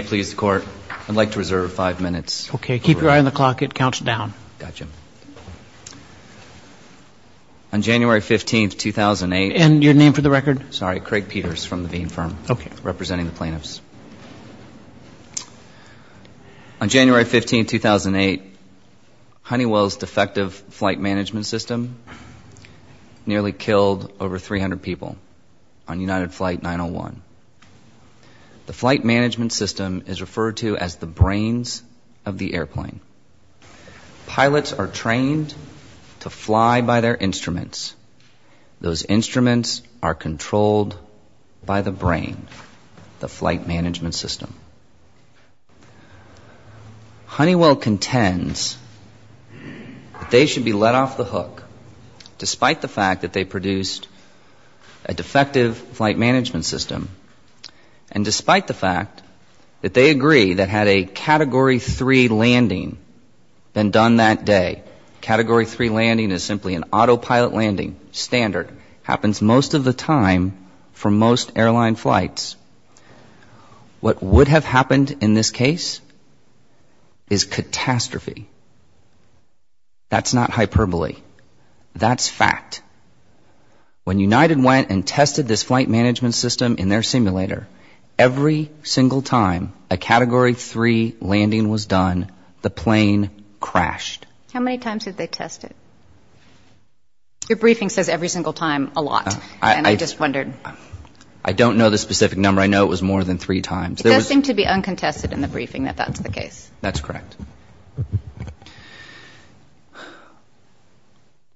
On January 15, 2008, Honeywell's defective flight management system nearly killed over 300 people on United Flight 901. The flight management system is referred to as the brains of the airplane. Pilots are trained to fly by their instruments. Those instruments are controlled by the brain, the flight management system. Honeywell contends that they should be let off the hook despite the fact that they produced a defective flight management system and despite the fact that they agree that had a Category 3 landing been done that day, Category 3 landing is simply an autopilot landing standard, happens most of the time for most airline flights. What would have happened in this case is catastrophe. That's not hyperbole. That's fact. When United went and tested this flight management system in their simulator, every single time a Category 3 landing was done, the plane crashed. How many times did they test it? Your briefing says every single time a lot. And I just wondered. I don't know the specific number. I know it was more than three times. It does seem to be uncontested in the briefing that that's the case. That's correct.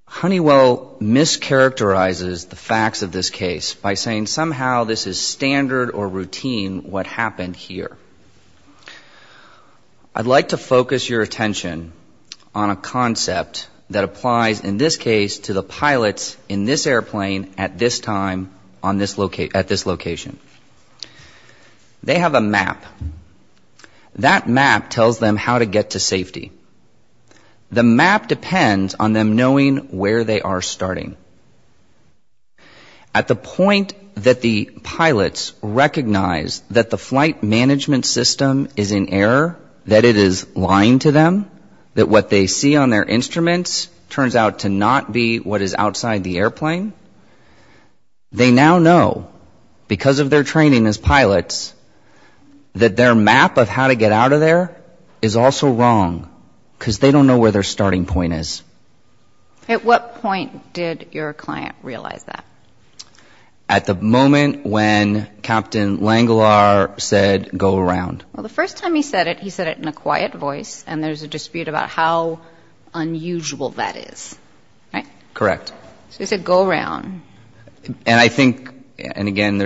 Honeywell mischaracterizes the facts of this case by saying somehow this is standard or routine what happened here. I'd like to focus your attention on a concept that applies in this case to the pilots in this airplane at this time on this location. They have a map. That map tells them how to get to safety. The map depends on them knowing where they are starting. At the point that the pilots recognize that the flight management system is in error, that it is lying to them, that what they see on their instruments turns out to not be what is outside the airplane, they now know because of their training as pilots that their map of how to get out of there is also wrong because they don't know where their starting point is. At what point did your client realize that? At the moment when Captain Langelaar said go around. Well, the first time he said it, he said it in a quiet voice. And there's a So he said go around. And I think, and again,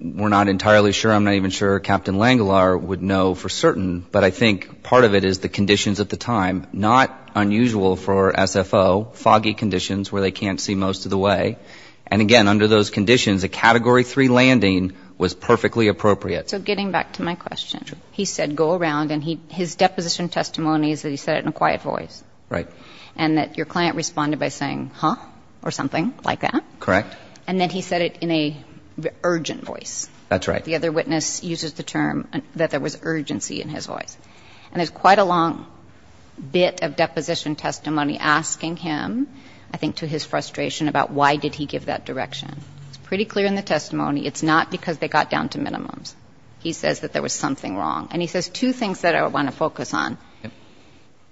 we're not entirely sure, I'm not even sure Captain Langelaar would know for certain, but I think part of it is the conditions at the time, not unusual for SFO, foggy conditions where they can't see most of the way. And again, under those conditions, a Category 3 landing was perfectly appropriate. So getting back to my question, he said go around and his deposition testimony is that he said it in a quiet voice. Right. And that your client responded by saying, huh, or something like that. Correct. And then he said it in a urgent voice. That's right. The other witness uses the term that there was urgency in his voice. And there's quite a long bit of deposition testimony asking him, I think, to his frustration about why did he give that direction. It's pretty clear in the testimony. It's not because they got down to minimums. He says that there was something wrong. And he says two things that I want to focus on.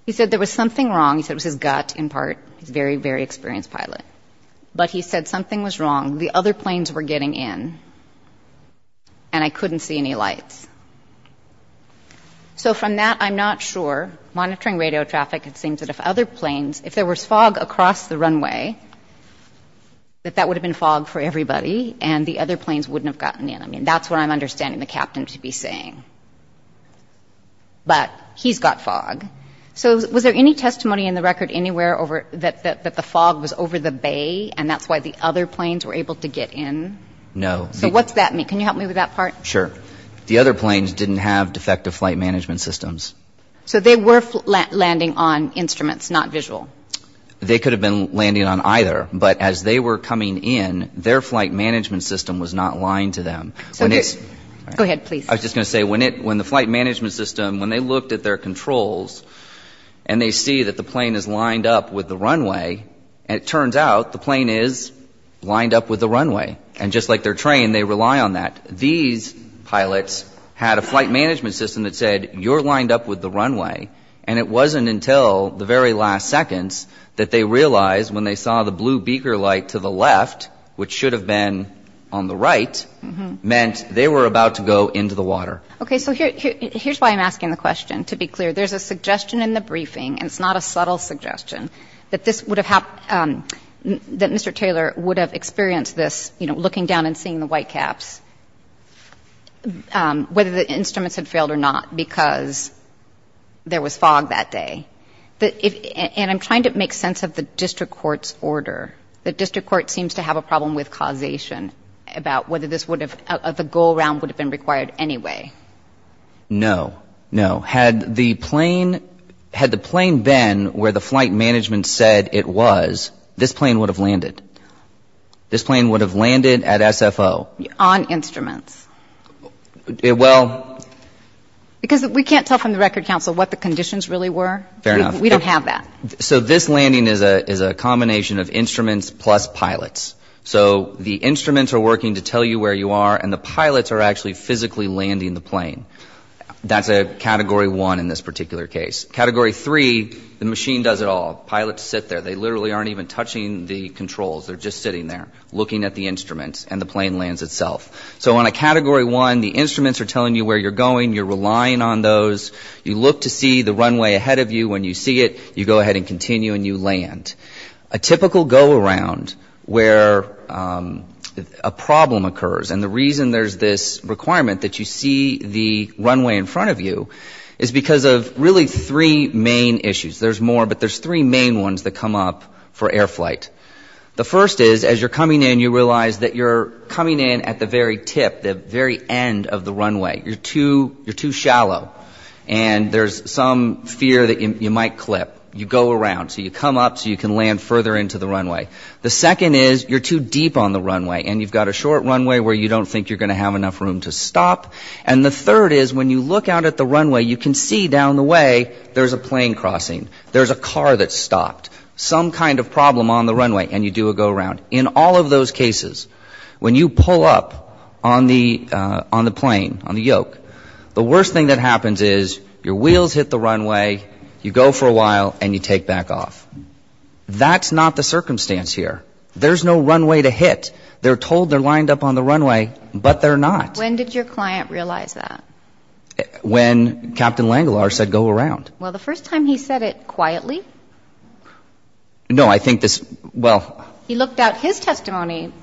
He said there was something wrong. He said it was his gut in part. He's very, very experienced pilot. But he said something was wrong. The other planes were getting in and I couldn't see any lights. So from that, I'm not sure. Monitoring radio traffic, it seems that if other planes, if there was fog across the runway, that that would have been fog for everybody and the other planes wouldn't have gotten in. I mean, that's what I'm understanding the captain to be saying. But he's got fog. So was there any testimony in the record anywhere over that the fog was over the bay and that's why the other planes were able to get in? No. So what's that mean? Can you help me with that part? Sure. The other planes didn't have defective flight management systems. So they were landing on instruments, not visual. They could have been landing on either. But as they were coming in, their flight management system was not lying to them. So go ahead, please. I was just going to say when the flight management system, when they looked at their controls and they see that the plane is lined up with the runway, it turns out the plane is lined up with the runway. And just like their train, they rely on that. These pilots had a flight management system that said, you're lined up with the runway. And it wasn't until the very last seconds that they realized when they saw the blue beaker light to the left, which should have been on the right, meant they were about to go into the water. Okay. So here's why I'm asking the question. To be clear, there's a suggestion in the briefing, and it's not a subtle suggestion, that this would have happened, that Mr. Taylor would have experienced this, you know, looking down and seeing the white caps, whether the instruments had failed or not, because there was fog that day. And I'm trying to make sense of the district court's order. The district court seems to have a problem with causation about whether this would have, the go-around would have been required anyway. No. No. Had the plane, had the plane been where the flight management said it was, this plane would have landed. This plane would have landed at SFO. On instruments. Well. Because we can't tell from the Record Council what the conditions really were. Fair enough. We don't have that. So this landing is a combination of instruments plus pilots. So the instruments are working to tell you where you are, and the pilots are actually physically landing the plane. That's a Category 1 in this particular case. Category 3, the machine does it all. Pilots sit there. They literally aren't even touching the controls. They're just sitting there, looking at the instruments, and the plane lands itself. So on a Category 1, the instruments are telling you where you're going. You're relying on those. You look to see the runway ahead of you. When you see it, you go ahead and continue and you land. A typical go-around where a problem occurs, and the reason there's this requirement that you see the runway in front of you, is because of really three main issues. There's more, but there's three main ones that come up for air flight. The first is, as you're coming in, you realize that you're coming in at the very tip, the very end of the runway. You're too shallow. And there's some fear that you might clip. You go around. So you come up so you can land further into the runway. The second is, you're too deep on the runway, and you've got a short runway where you don't think you're going to have enough room to stop. And the third is, when you look out at the runway, you can see down the way there's a plane crossing. There's a car that's stopped. Some kind of problem on the runway, and you do a go-around. In all of those cases, when you pull up on the plane, on the yoke, the worst thing that happens is you go around, you stop for a while, and you take back off. That's not the circumstance here. There's no runway to hit. They're told they're lined up on the runway, but they're not. When did your client realize that? When Captain Langelaar said, go around. Well, the first time he said it quietly? No, I think this, well... He looked out. His testimony,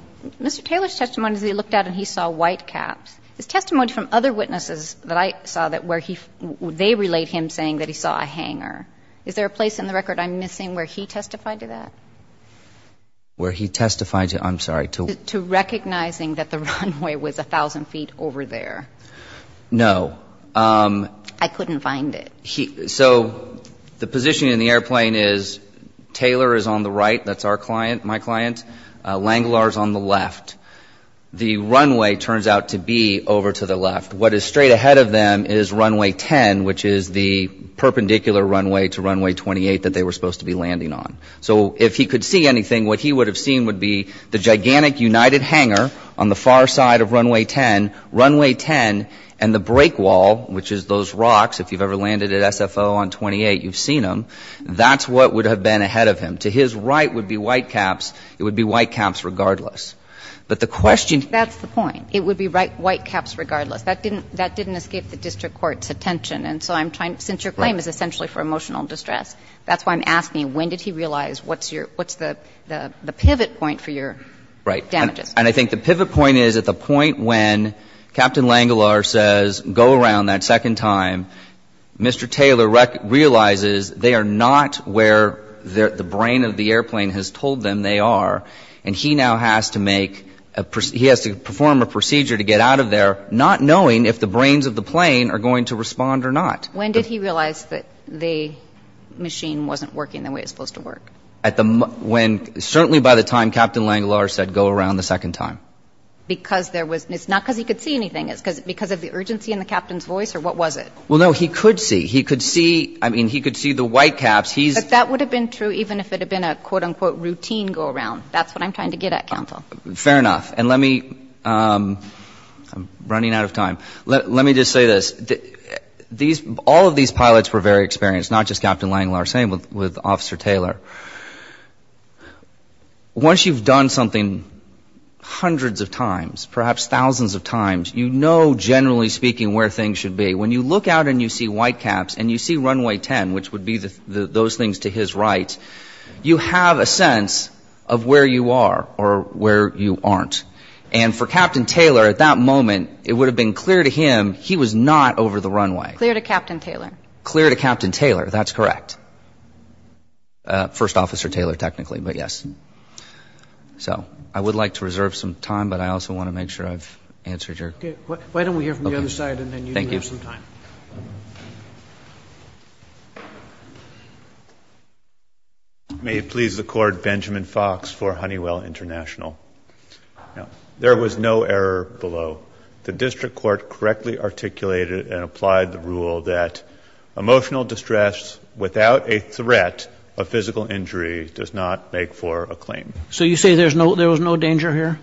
Mr. Taylor's testimony is that he looked out and he saw white caps. His testimony from other witnesses that I saw that where he, they relate him saying that he saw a hanger. Is there a place in the record I'm missing where he testified to that? Where he testified to, I'm sorry, to... To recognizing that the runway was 1,000 feet over there. No. I couldn't find it. So the position in the airplane is, Taylor is on the right, that's our client, my client. Langelaar's on the left. The runway turns out to be over to the left. What is straight ahead of them is runway 10, which is the perpendicular runway to runway 28 that they were supposed to be landing on. So if he could see anything, what he would have seen would be the gigantic united hanger on the far side of runway 10, runway 10, and the break wall, which is those rocks, if you've ever landed at SFO on 28, you've seen them. That's what would have been ahead of him. To his right would be white caps. It would be white caps regardless. But the question... I'm trying to escape the district court's attention, and so I'm trying to, since your claim is essentially for emotional distress, that's why I'm asking, when did he realize what's your, what's the pivot point for your damages? And I think the pivot point is at the point when Captain Langelaar says, go around that second time, Mr. Taylor realizes they are not where the brain of the airplane has told them they are, and he now has to make a, he has to perform a procedure to get out of there not knowing if the brains of the plane are going to respond or not. When did he realize that the machine wasn't working the way it's supposed to work? At the, when, certainly by the time Captain Langelaar said, go around the second time. Because there was, it's not because he could see anything, it's because of the urgency in the captain's voice, or what was it? Well, no, he could see. He could see, I mean, he could see the white caps, he's... But that would have been true even if it had been a quote-unquote routine go around. That's what I'm trying to get at, counsel. Fair enough. And let me, I'm running out of time. Let me just say this. These, all of these pilots were very experienced, not just Captain Langelaar, same with Officer Taylor. Once you've done something hundreds of times, perhaps thousands of times, you know generally speaking where things should be. When you look out and you see white caps and you see Runway 10, which would be those things to his right, you have a sense of where you are or where you aren't. And for Captain Taylor, at that moment, it would have been clear to him he was not over the runway. Clear to Captain Taylor. Clear to Captain Taylor, that's correct. First Officer Taylor, technically, but yes. So, I would like to reserve some time, but I also want to make sure I've answered your... Okay, why don't we hear from the other side and then you can have some time. May it please the court, Benjamin Fox for Honeywell International. There was no error below. The district court correctly articulated and applied the rule that emotional distress without a threat of physical injury does not make for a claim. So you say there was no danger here?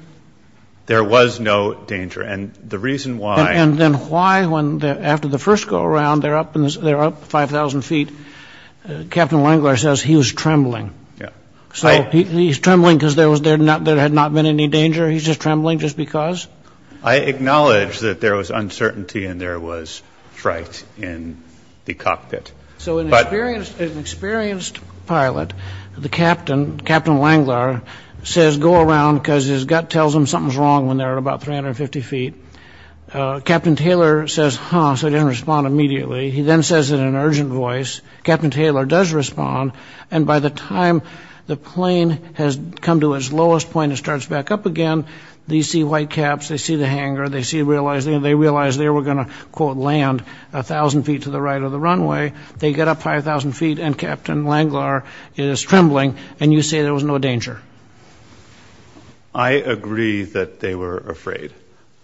There was no danger. And the reason why... And then why, after the first go around, they're up 5,000 feet, Captain Langlar says he was trembling. So he's trembling because there had not been any danger? He's just trembling just because? I acknowledge that there was uncertainty and there was fright in the cockpit. So an experienced pilot, the captain, Captain Langlar, says go around because his gut tells him something's wrong when they're at about 350 feet. Captain Taylor says, huh, so he didn't respond immediately. He then says it in an urgent voice. Captain Taylor does respond. And by the time the plane has come to its lowest point and starts back up again, they see white caps, they see the hangar, they realize they were going to, quote, land 1,000 feet to the right of the runway. They get up 5,000 feet and Captain Langlar is trembling and you say there was no danger? I agree that they were afraid.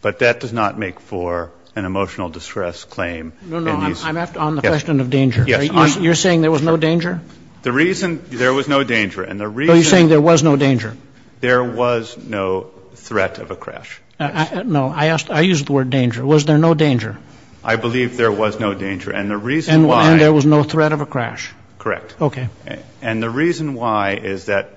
But that does not make for an emotional distress claim. No, no, I'm on the question of danger. You're saying there was no danger? The reason there was no danger and the reason... So you're saying there was no danger? There was no threat of a crash. No, I used the word danger. Was there no danger? I believe there was no danger. And the reason why... And there was no threat of a crash? Correct. Okay. And the reason why is that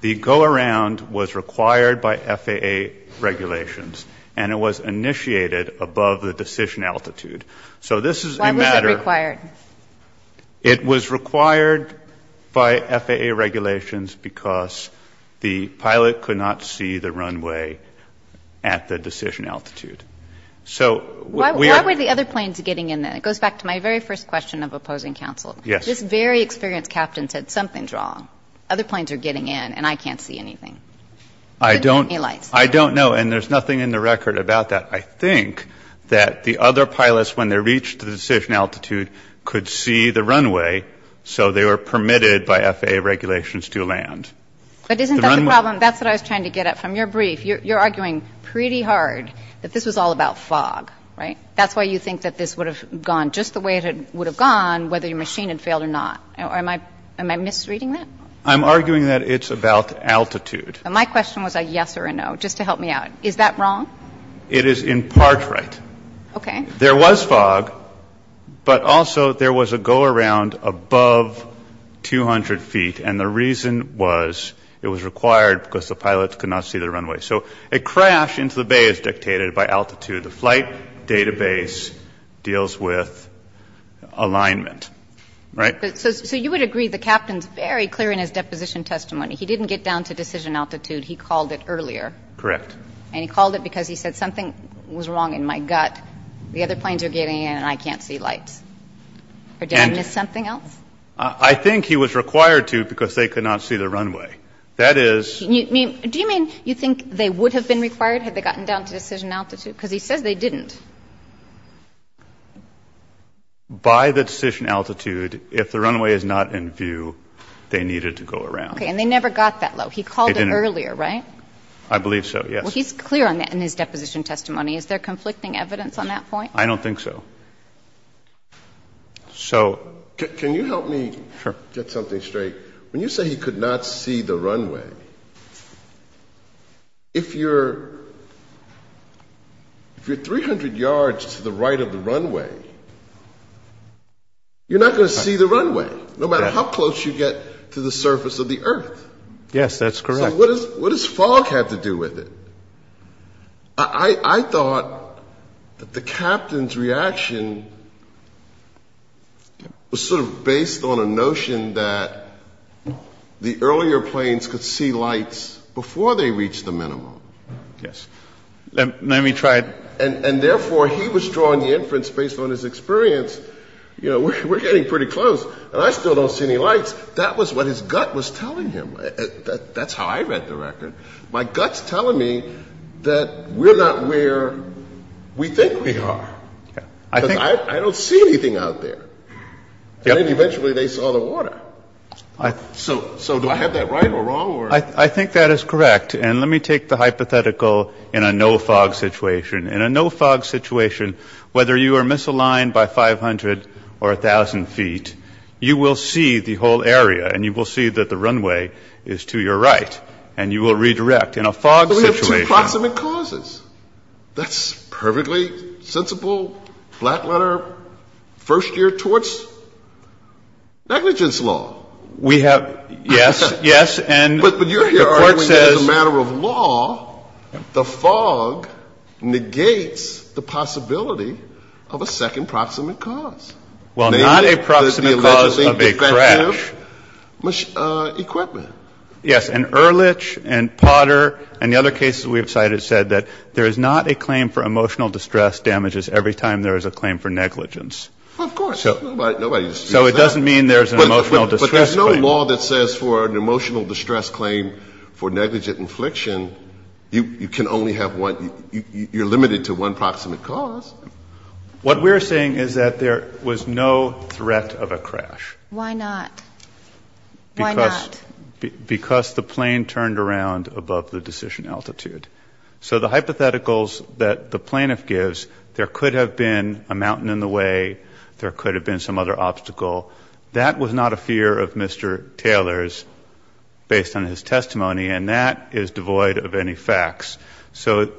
the go-around was required by FAA regulations and it was initiated above the decision altitude. So this is a matter... Why was it required? It was required by FAA regulations because the pilot could not see the runway at the decision altitude. So... Why were the other planes getting in there? It goes back to my very first question of opposing counsel. Yes. This very experienced captain said something's wrong. Other planes are getting in and I can't see anything. Couldn't get any lights. I don't know. And there's nothing in the record about that. I think that the other pilots, when they reached the decision altitude, could see the runway, so they were permitted by FAA regulations to land. But isn't that the problem? That's what I was trying to get at from your brief. You're arguing pretty hard that this was all about fog, right? That's why you think that this would have gone just the way it would have gone whether your machine had failed or not. Am I misreading that? I'm arguing that it's about altitude. My question was a yes or a no, just to help me out. Is that wrong? It is in part right. Okay. There was fog, but also there was a go-around above 200 feet and the reason was it was required because the pilots could not see the runway. So a crash into the bay is with alignment, right? So you would agree the captain is very clear in his deposition testimony. He didn't get down to decision altitude. He called it earlier. Correct. And he called it because he said something was wrong in my gut. The other planes are getting in and I can't see lights. Or did I miss something else? I think he was required to because they could not see the runway. That is ---- Do you mean you think they would have been required had they gotten down to decision altitude? Because he says they didn't. By the decision altitude, if the runway is not in view, they needed to go around. Okay. And they never got that low. He called it earlier, right? I believe so, yes. Well, he's clear on that in his deposition testimony. Is there conflicting evidence on that point? I don't think so. So ---- Can you help me get something straight? Sure. When you say he could not see the runway, if you're 300 yards to the right of the runway, you're not going to see the runway no matter how close you get to the surface of the earth. Yes, that's correct. So what does fog have to do with it? I thought that the captain's reaction was sort of based on a notion that the earlier planes could see lights before they reached the minimum. Yes. Let me try ---- And, therefore, he was drawing the inference based on his experience, you know, we're getting pretty close and I still don't see any lights. That was what his gut was telling him. That's how I read the record. My gut's telling me that we're not where we think we are. I think ---- Because I don't see anything out there. And, eventually, they saw the water. So do I have that right or wrong? I think that is correct. And let me take the hypothetical in a no-fog situation. In a no-fog situation, whether you are misaligned by 500 or 1,000 feet, you will see the whole area and you will see that the runway is to your right and you will redirect. In a fog situation ---- We have two proximate causes. That's perfectly sensible, flat-letter, first-year torts, negligence law. We have ---- Yes. Yes. And the Court says ---- But you're arguing that as a matter of law, the fog negates the possibility of a second proximate cause. Well, not a proximate cause of a crash. The alleged defective equipment. Yes. And Ehrlich and Potter and the other cases we have cited said that there is not a claim for emotional distress damages every time there is a claim for negligence. Well, of course. Nobody disputes that. So it doesn't mean there is an emotional distress claim. But there is no law that says for an emotional distress claim for negligent infliction, you can only have one ---- you are limited to one proximate cause. What we are saying is that there was no threat of a crash. Why not? Why not? Because the plane turned around above the decision altitude. So the hypotheticals that the plaintiff gives, there could have been a mountain in the way. There could have been some other obstacle. That was not a fear of Mr. Taylor's based on his testimony. And that is devoid of any facts. So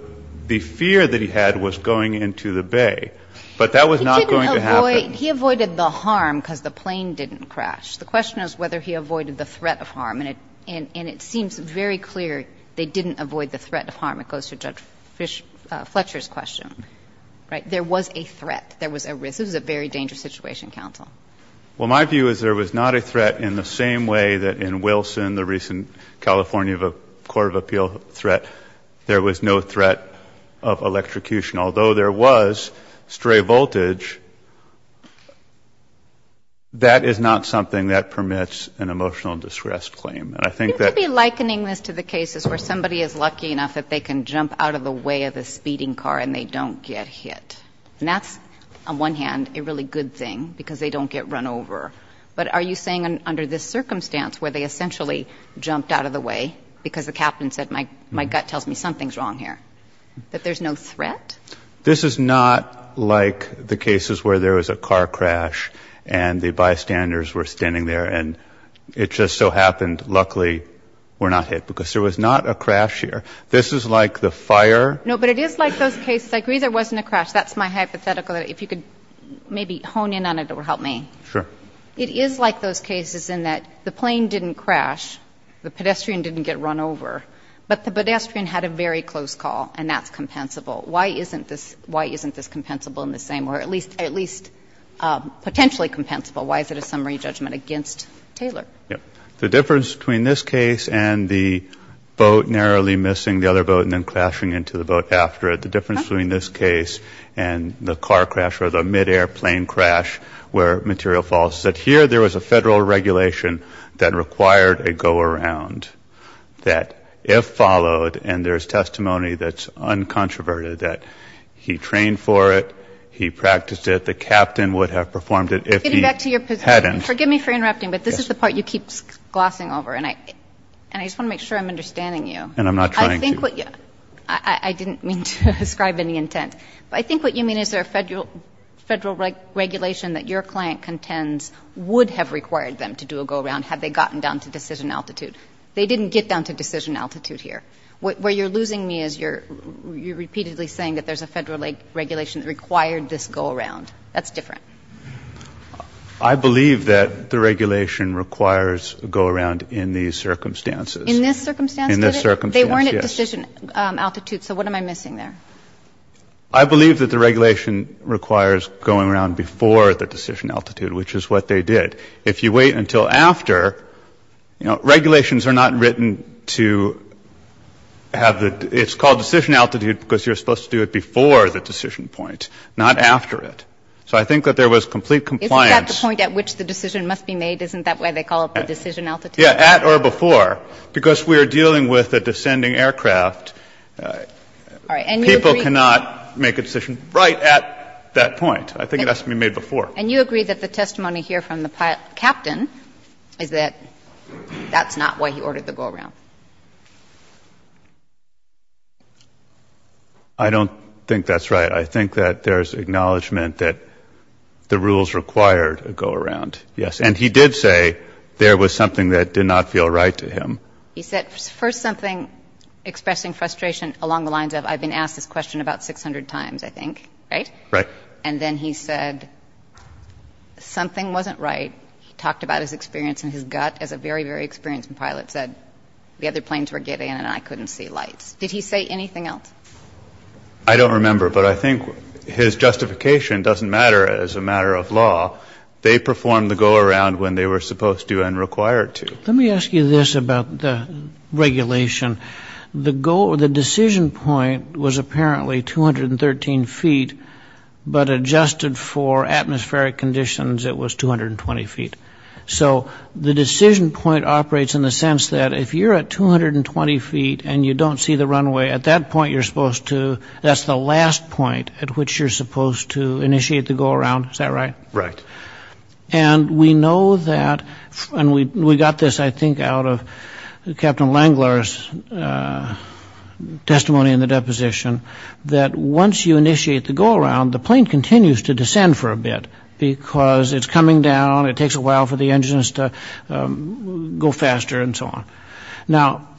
the fear that he had was going into the bay. But that was not going to happen. He avoided the harm because the plane didn't crash. The question is whether he avoided the threat of harm. And it seems very clear they didn't avoid the threat of harm. It goes to Judge Fletcher's question. Right? There was a threat. There was a risk. It was a very dangerous situation, counsel. Well, my view is there was not a threat in the same way that in Wilson, the recent California Court of Appeal threat, there was no threat of electrocution. Although there was stray voltage, that is not something that permits an emotional distress claim. And I think that ---- You seem to be likening this to the cases where somebody is lucky enough that they can jump out of the way of a speeding car and they don't get hit. And that's, on one hand, a really good thing because they don't get run over. But are you saying under this circumstance where they essentially jumped out of the way because the captain said, my gut tells me something's wrong here, that there's no threat? This is not like the cases where there was a car crash and the bystanders were standing there and it just so happened luckily we're not hit because there was not a crash here. This is like the fire. No, but it is like those cases. I agree there wasn't a crash. That's my hypothetical. If you could maybe hone in on it, it would help me. Sure. It is like those cases in that the plane didn't crash, the pedestrian didn't get run over, but the pedestrian had a very close call, and that's compensable. Why isn't this compensable in the same way, or at least potentially compensable? Why is it a summary judgment against Taylor? The difference between this case and the boat narrowly missing the other boat and then crashing into the boat after it, the difference between this case and the car crash or the midair plane crash where material falls is that here there was a Federal regulation that required a go-around, that if followed, and there's testimony that's uncontroverted, that he trained for it, he practiced it, the captain would have performed it if he hadn't. Getting back to your position. Forgive me for interrupting, but this is the part you keep glossing over, and I just want to make sure I'm understanding you. And I'm not trying to. I didn't mean to ascribe any intent. But I think what you mean is there a Federal regulation that your client contends would have required them to do a go-around had they gotten down to decision altitude. They didn't get down to decision altitude here. Where you're losing me is you're repeatedly saying that there's a Federal regulation that required this go-around. That's different. I believe that the regulation requires a go-around in these circumstances. In this circumstance? In this circumstance, yes. They weren't at decision altitude, so what am I missing there? I believe that the regulation requires going around before the decision altitude, which is what they did. If you wait until after, you know, regulations are not written to have the ‑‑ it's called decision altitude because you're supposed to do it before the decision point, not after it. So I think that there was complete compliance. Isn't that the point at which the decision must be made? Isn't that why they call it the decision altitude? Yeah, at or before. Because we're dealing with a descending aircraft, people cannot make a decision right at that point. I think it has to be made before. And you agree that the testimony here from the captain is that that's not why he ordered the go-around? I don't think that's right. I think that there's acknowledgment that the rules required a go-around, yes. And he did say there was something that did not feel right to him. He said first something expressing frustration along the lines of I've been asked this question about 600 times, I think, right? Right. And then he said something wasn't right. He talked about his experience and his gut as a very, very experienced pilot, said the other planes were getting in and I couldn't see lights. Did he say anything else? I don't remember. But I think his justification doesn't matter as a matter of law. They performed the go-around when they were supposed to and required to. Let me ask you this about the regulation. The decision point was apparently 213 feet, but adjusted for atmospheric conditions, it was 220 feet. So the decision point operates in the sense that if you're at 220 feet and you don't see the runway, at that point you're supposed to, that's the last point at which you're supposed to initiate the go-around. Is that right? Right. And we know that, and we got this, I think, out of Captain Langlar's testimony in the deposition, that once you initiate the go-around, the plane continues to descend for a bit because it's coming down, it takes a while for the engines to go faster and so on. Now,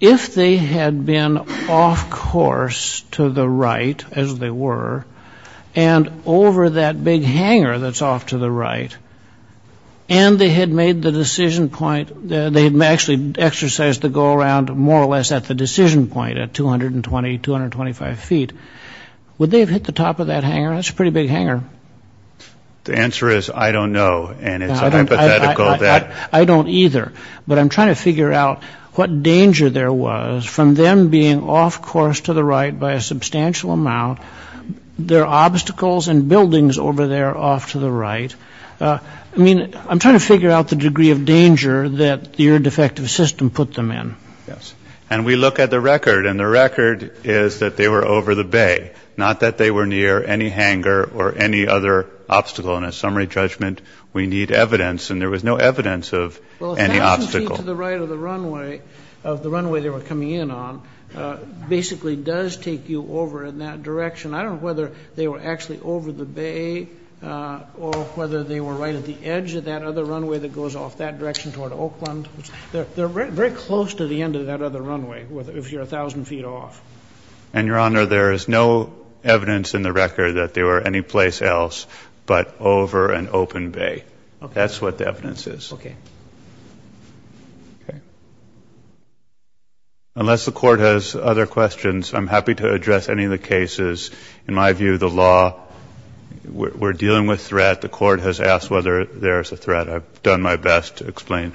if they had been off course to the right, as they were, and over that big hangar that's off to the right, and they had made the decision point, they had actually exercised the go-around more or less at the decision point, at 220, 225 feet, would they have hit the top of that hangar? That's a pretty big hangar. The answer is I don't know, and it's a hypothetical. I don't either. But I'm trying to figure out what danger there was from them being off course to the right by a substantial amount. There are obstacles and buildings over there off to the right. I mean, I'm trying to figure out the degree of danger that the air-defective system put them in. And we look at the record, and the record is that they were over the bay, not that they were near any hangar or any other obstacle. In a summary judgment, we need evidence, and there was no evidence of any obstacle. The action team to the right of the runway they were coming in on basically does take you over in that direction. I don't know whether they were actually over the bay or whether they were right at the edge of that other runway that goes off that direction toward Oakland. They're very close to the end of that other runway if you're 1,000 feet off. And, Your Honor, there is no evidence in the record that they were anyplace else but over an open bay. That's what the evidence is. Unless the court has other questions, I'm happy to address any of the cases. In my view, the law, we're dealing with threat. The court has asked whether there is a threat. I've done my best to explain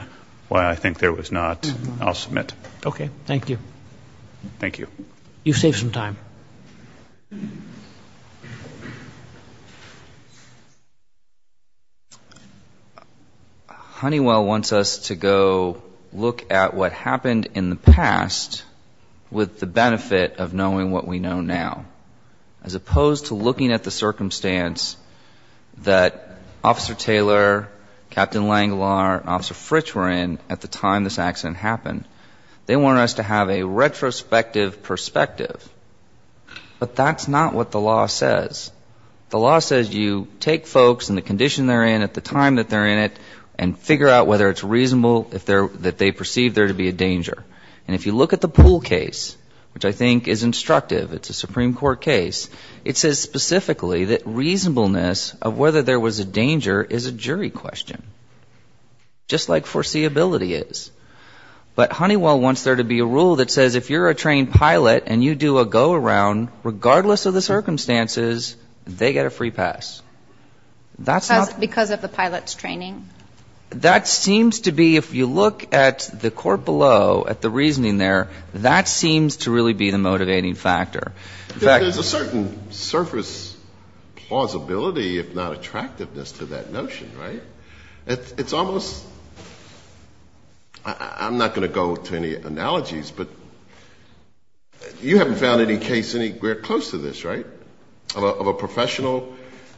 why I think there was not. I'll submit. Okay. Thank you. Thank you. You've saved some time. Honeywell wants us to go look at what happened in the past with the benefit of knowing what we know now as opposed to looking at the circumstance that Officer Taylor, Captain Langlar, and Officer Fritsch were in at the time this accident happened. They want us to have a retrospective perspective. But that's not what the law says. The law says you take folks and the condition they're in at the time that they're in it and figure out whether it's reasonable that they perceive there to be a danger. And if you look at the pool case, which I think is instructive, it's a Supreme Court case, it says specifically that reasonableness of whether there was a danger is a jury question, just like foreseeability is. But Honeywell wants there to be a rule that says if you're a trained pilot and you do a go-around, regardless of the circumstances, they get a free pass. Because of the pilot's training? That seems to be, if you look at the court below, at the reasoning there, that seems to really be the motivating factor. There's a certain surface plausibility, if not attractiveness, to that notion, right? It's almost, I'm not going to go to any analogies, but you haven't found any case any close to this, right? Of a professional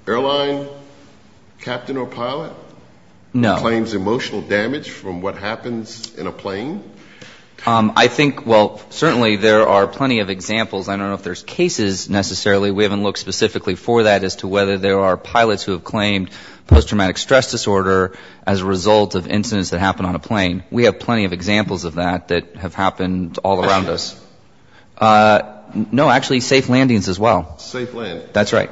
airline captain or pilot? No. Who claims emotional damage from what happens in a plane? I think, well, certainly there are plenty of examples. I don't know if there's cases necessarily. We haven't looked specifically for that as to whether there are pilots who have claimed post-traumatic stress disorder as a result of incidents that happen on a plane. We have plenty of examples of that that have happened all around us. No, actually, safe landings as well. Safe landing. That's right.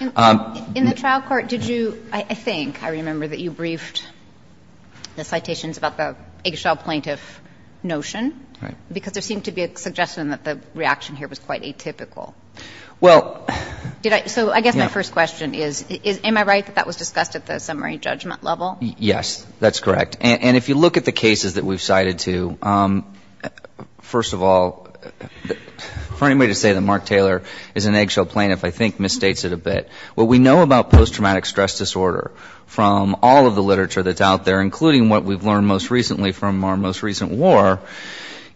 In the trial court, did you, I think I remember that you briefed the citations about the eggshell plaintiff notion? Right. Because there seemed to be a suggestion that the reaction here was quite atypical. So I guess my first question is, am I right that that was discussed at the summary judgment level? Yes, that's correct. And if you look at the cases that we've cited, too, first of all, for anybody to say that Mark Taylor is an eggshell plaintiff, I think misstates it a bit. What we know about post-traumatic stress disorder from all of the literature that's out there, including what we've learned most recently from our most recent war,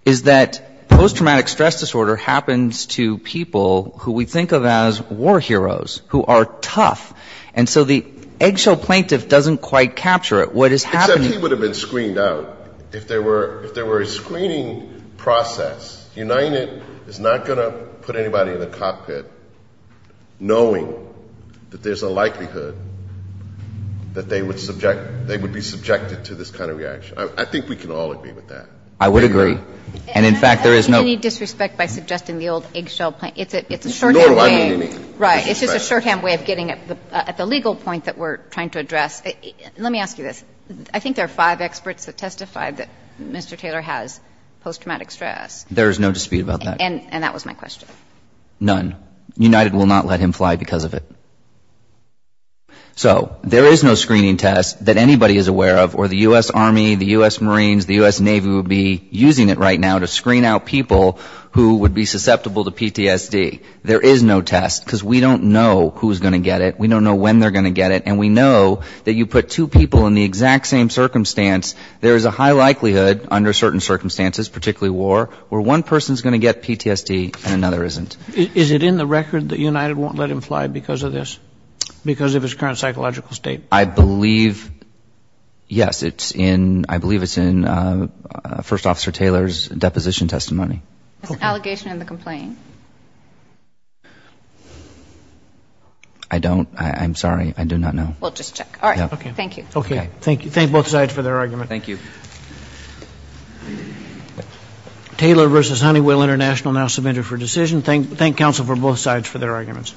is that post-traumatic stress disorder happens to people who we think of as war heroes, who are tough. And so the eggshell plaintiff doesn't quite capture it. What is happening to them? Except he would have been screened out. If there were a screening process, United is not going to put anybody in the cockpit knowing that there's a likelihood that they would be subjected to this kind of reaction. I think we can all agree with that. I would agree. And in fact, there is no — In any disrespect by suggesting the old eggshell plaintiff, it's a shorthand way — Nor do I mean any disrespect. Right. It's just a shorthand way of getting at the legal point that we're trying to address. Let me ask you this. I think there are five experts that testify that Mr. Taylor has post-traumatic stress. There is no dispute about that. And that was my question. None. United will not let him fly because of it. So there is no screening test that anybody is aware of or the U.S. Army, the U.S. Marines, the U.S. Navy would be using it right now to screen out people who would be susceptible to PTSD. There is no test because we don't know who's going to get it. We don't know when they're going to get it. And we know that you put two people in the exact same circumstance, there is a high likelihood under certain circumstances, particularly war, where one person is going to get PTSD and another isn't. Is it in the record that United won't let him fly because of this, because of his current psychological state? I believe, yes, I believe it's in First Officer Taylor's deposition testimony. It's an allegation in the complaint. I don't. I'm sorry. I do not know. We'll just check. All right. Thank you. Okay. Thank you. Thank both sides for their argument. Thank you. Taylor versus Honeywell International now submitted for decision. Thank counsel for both sides for their arguments.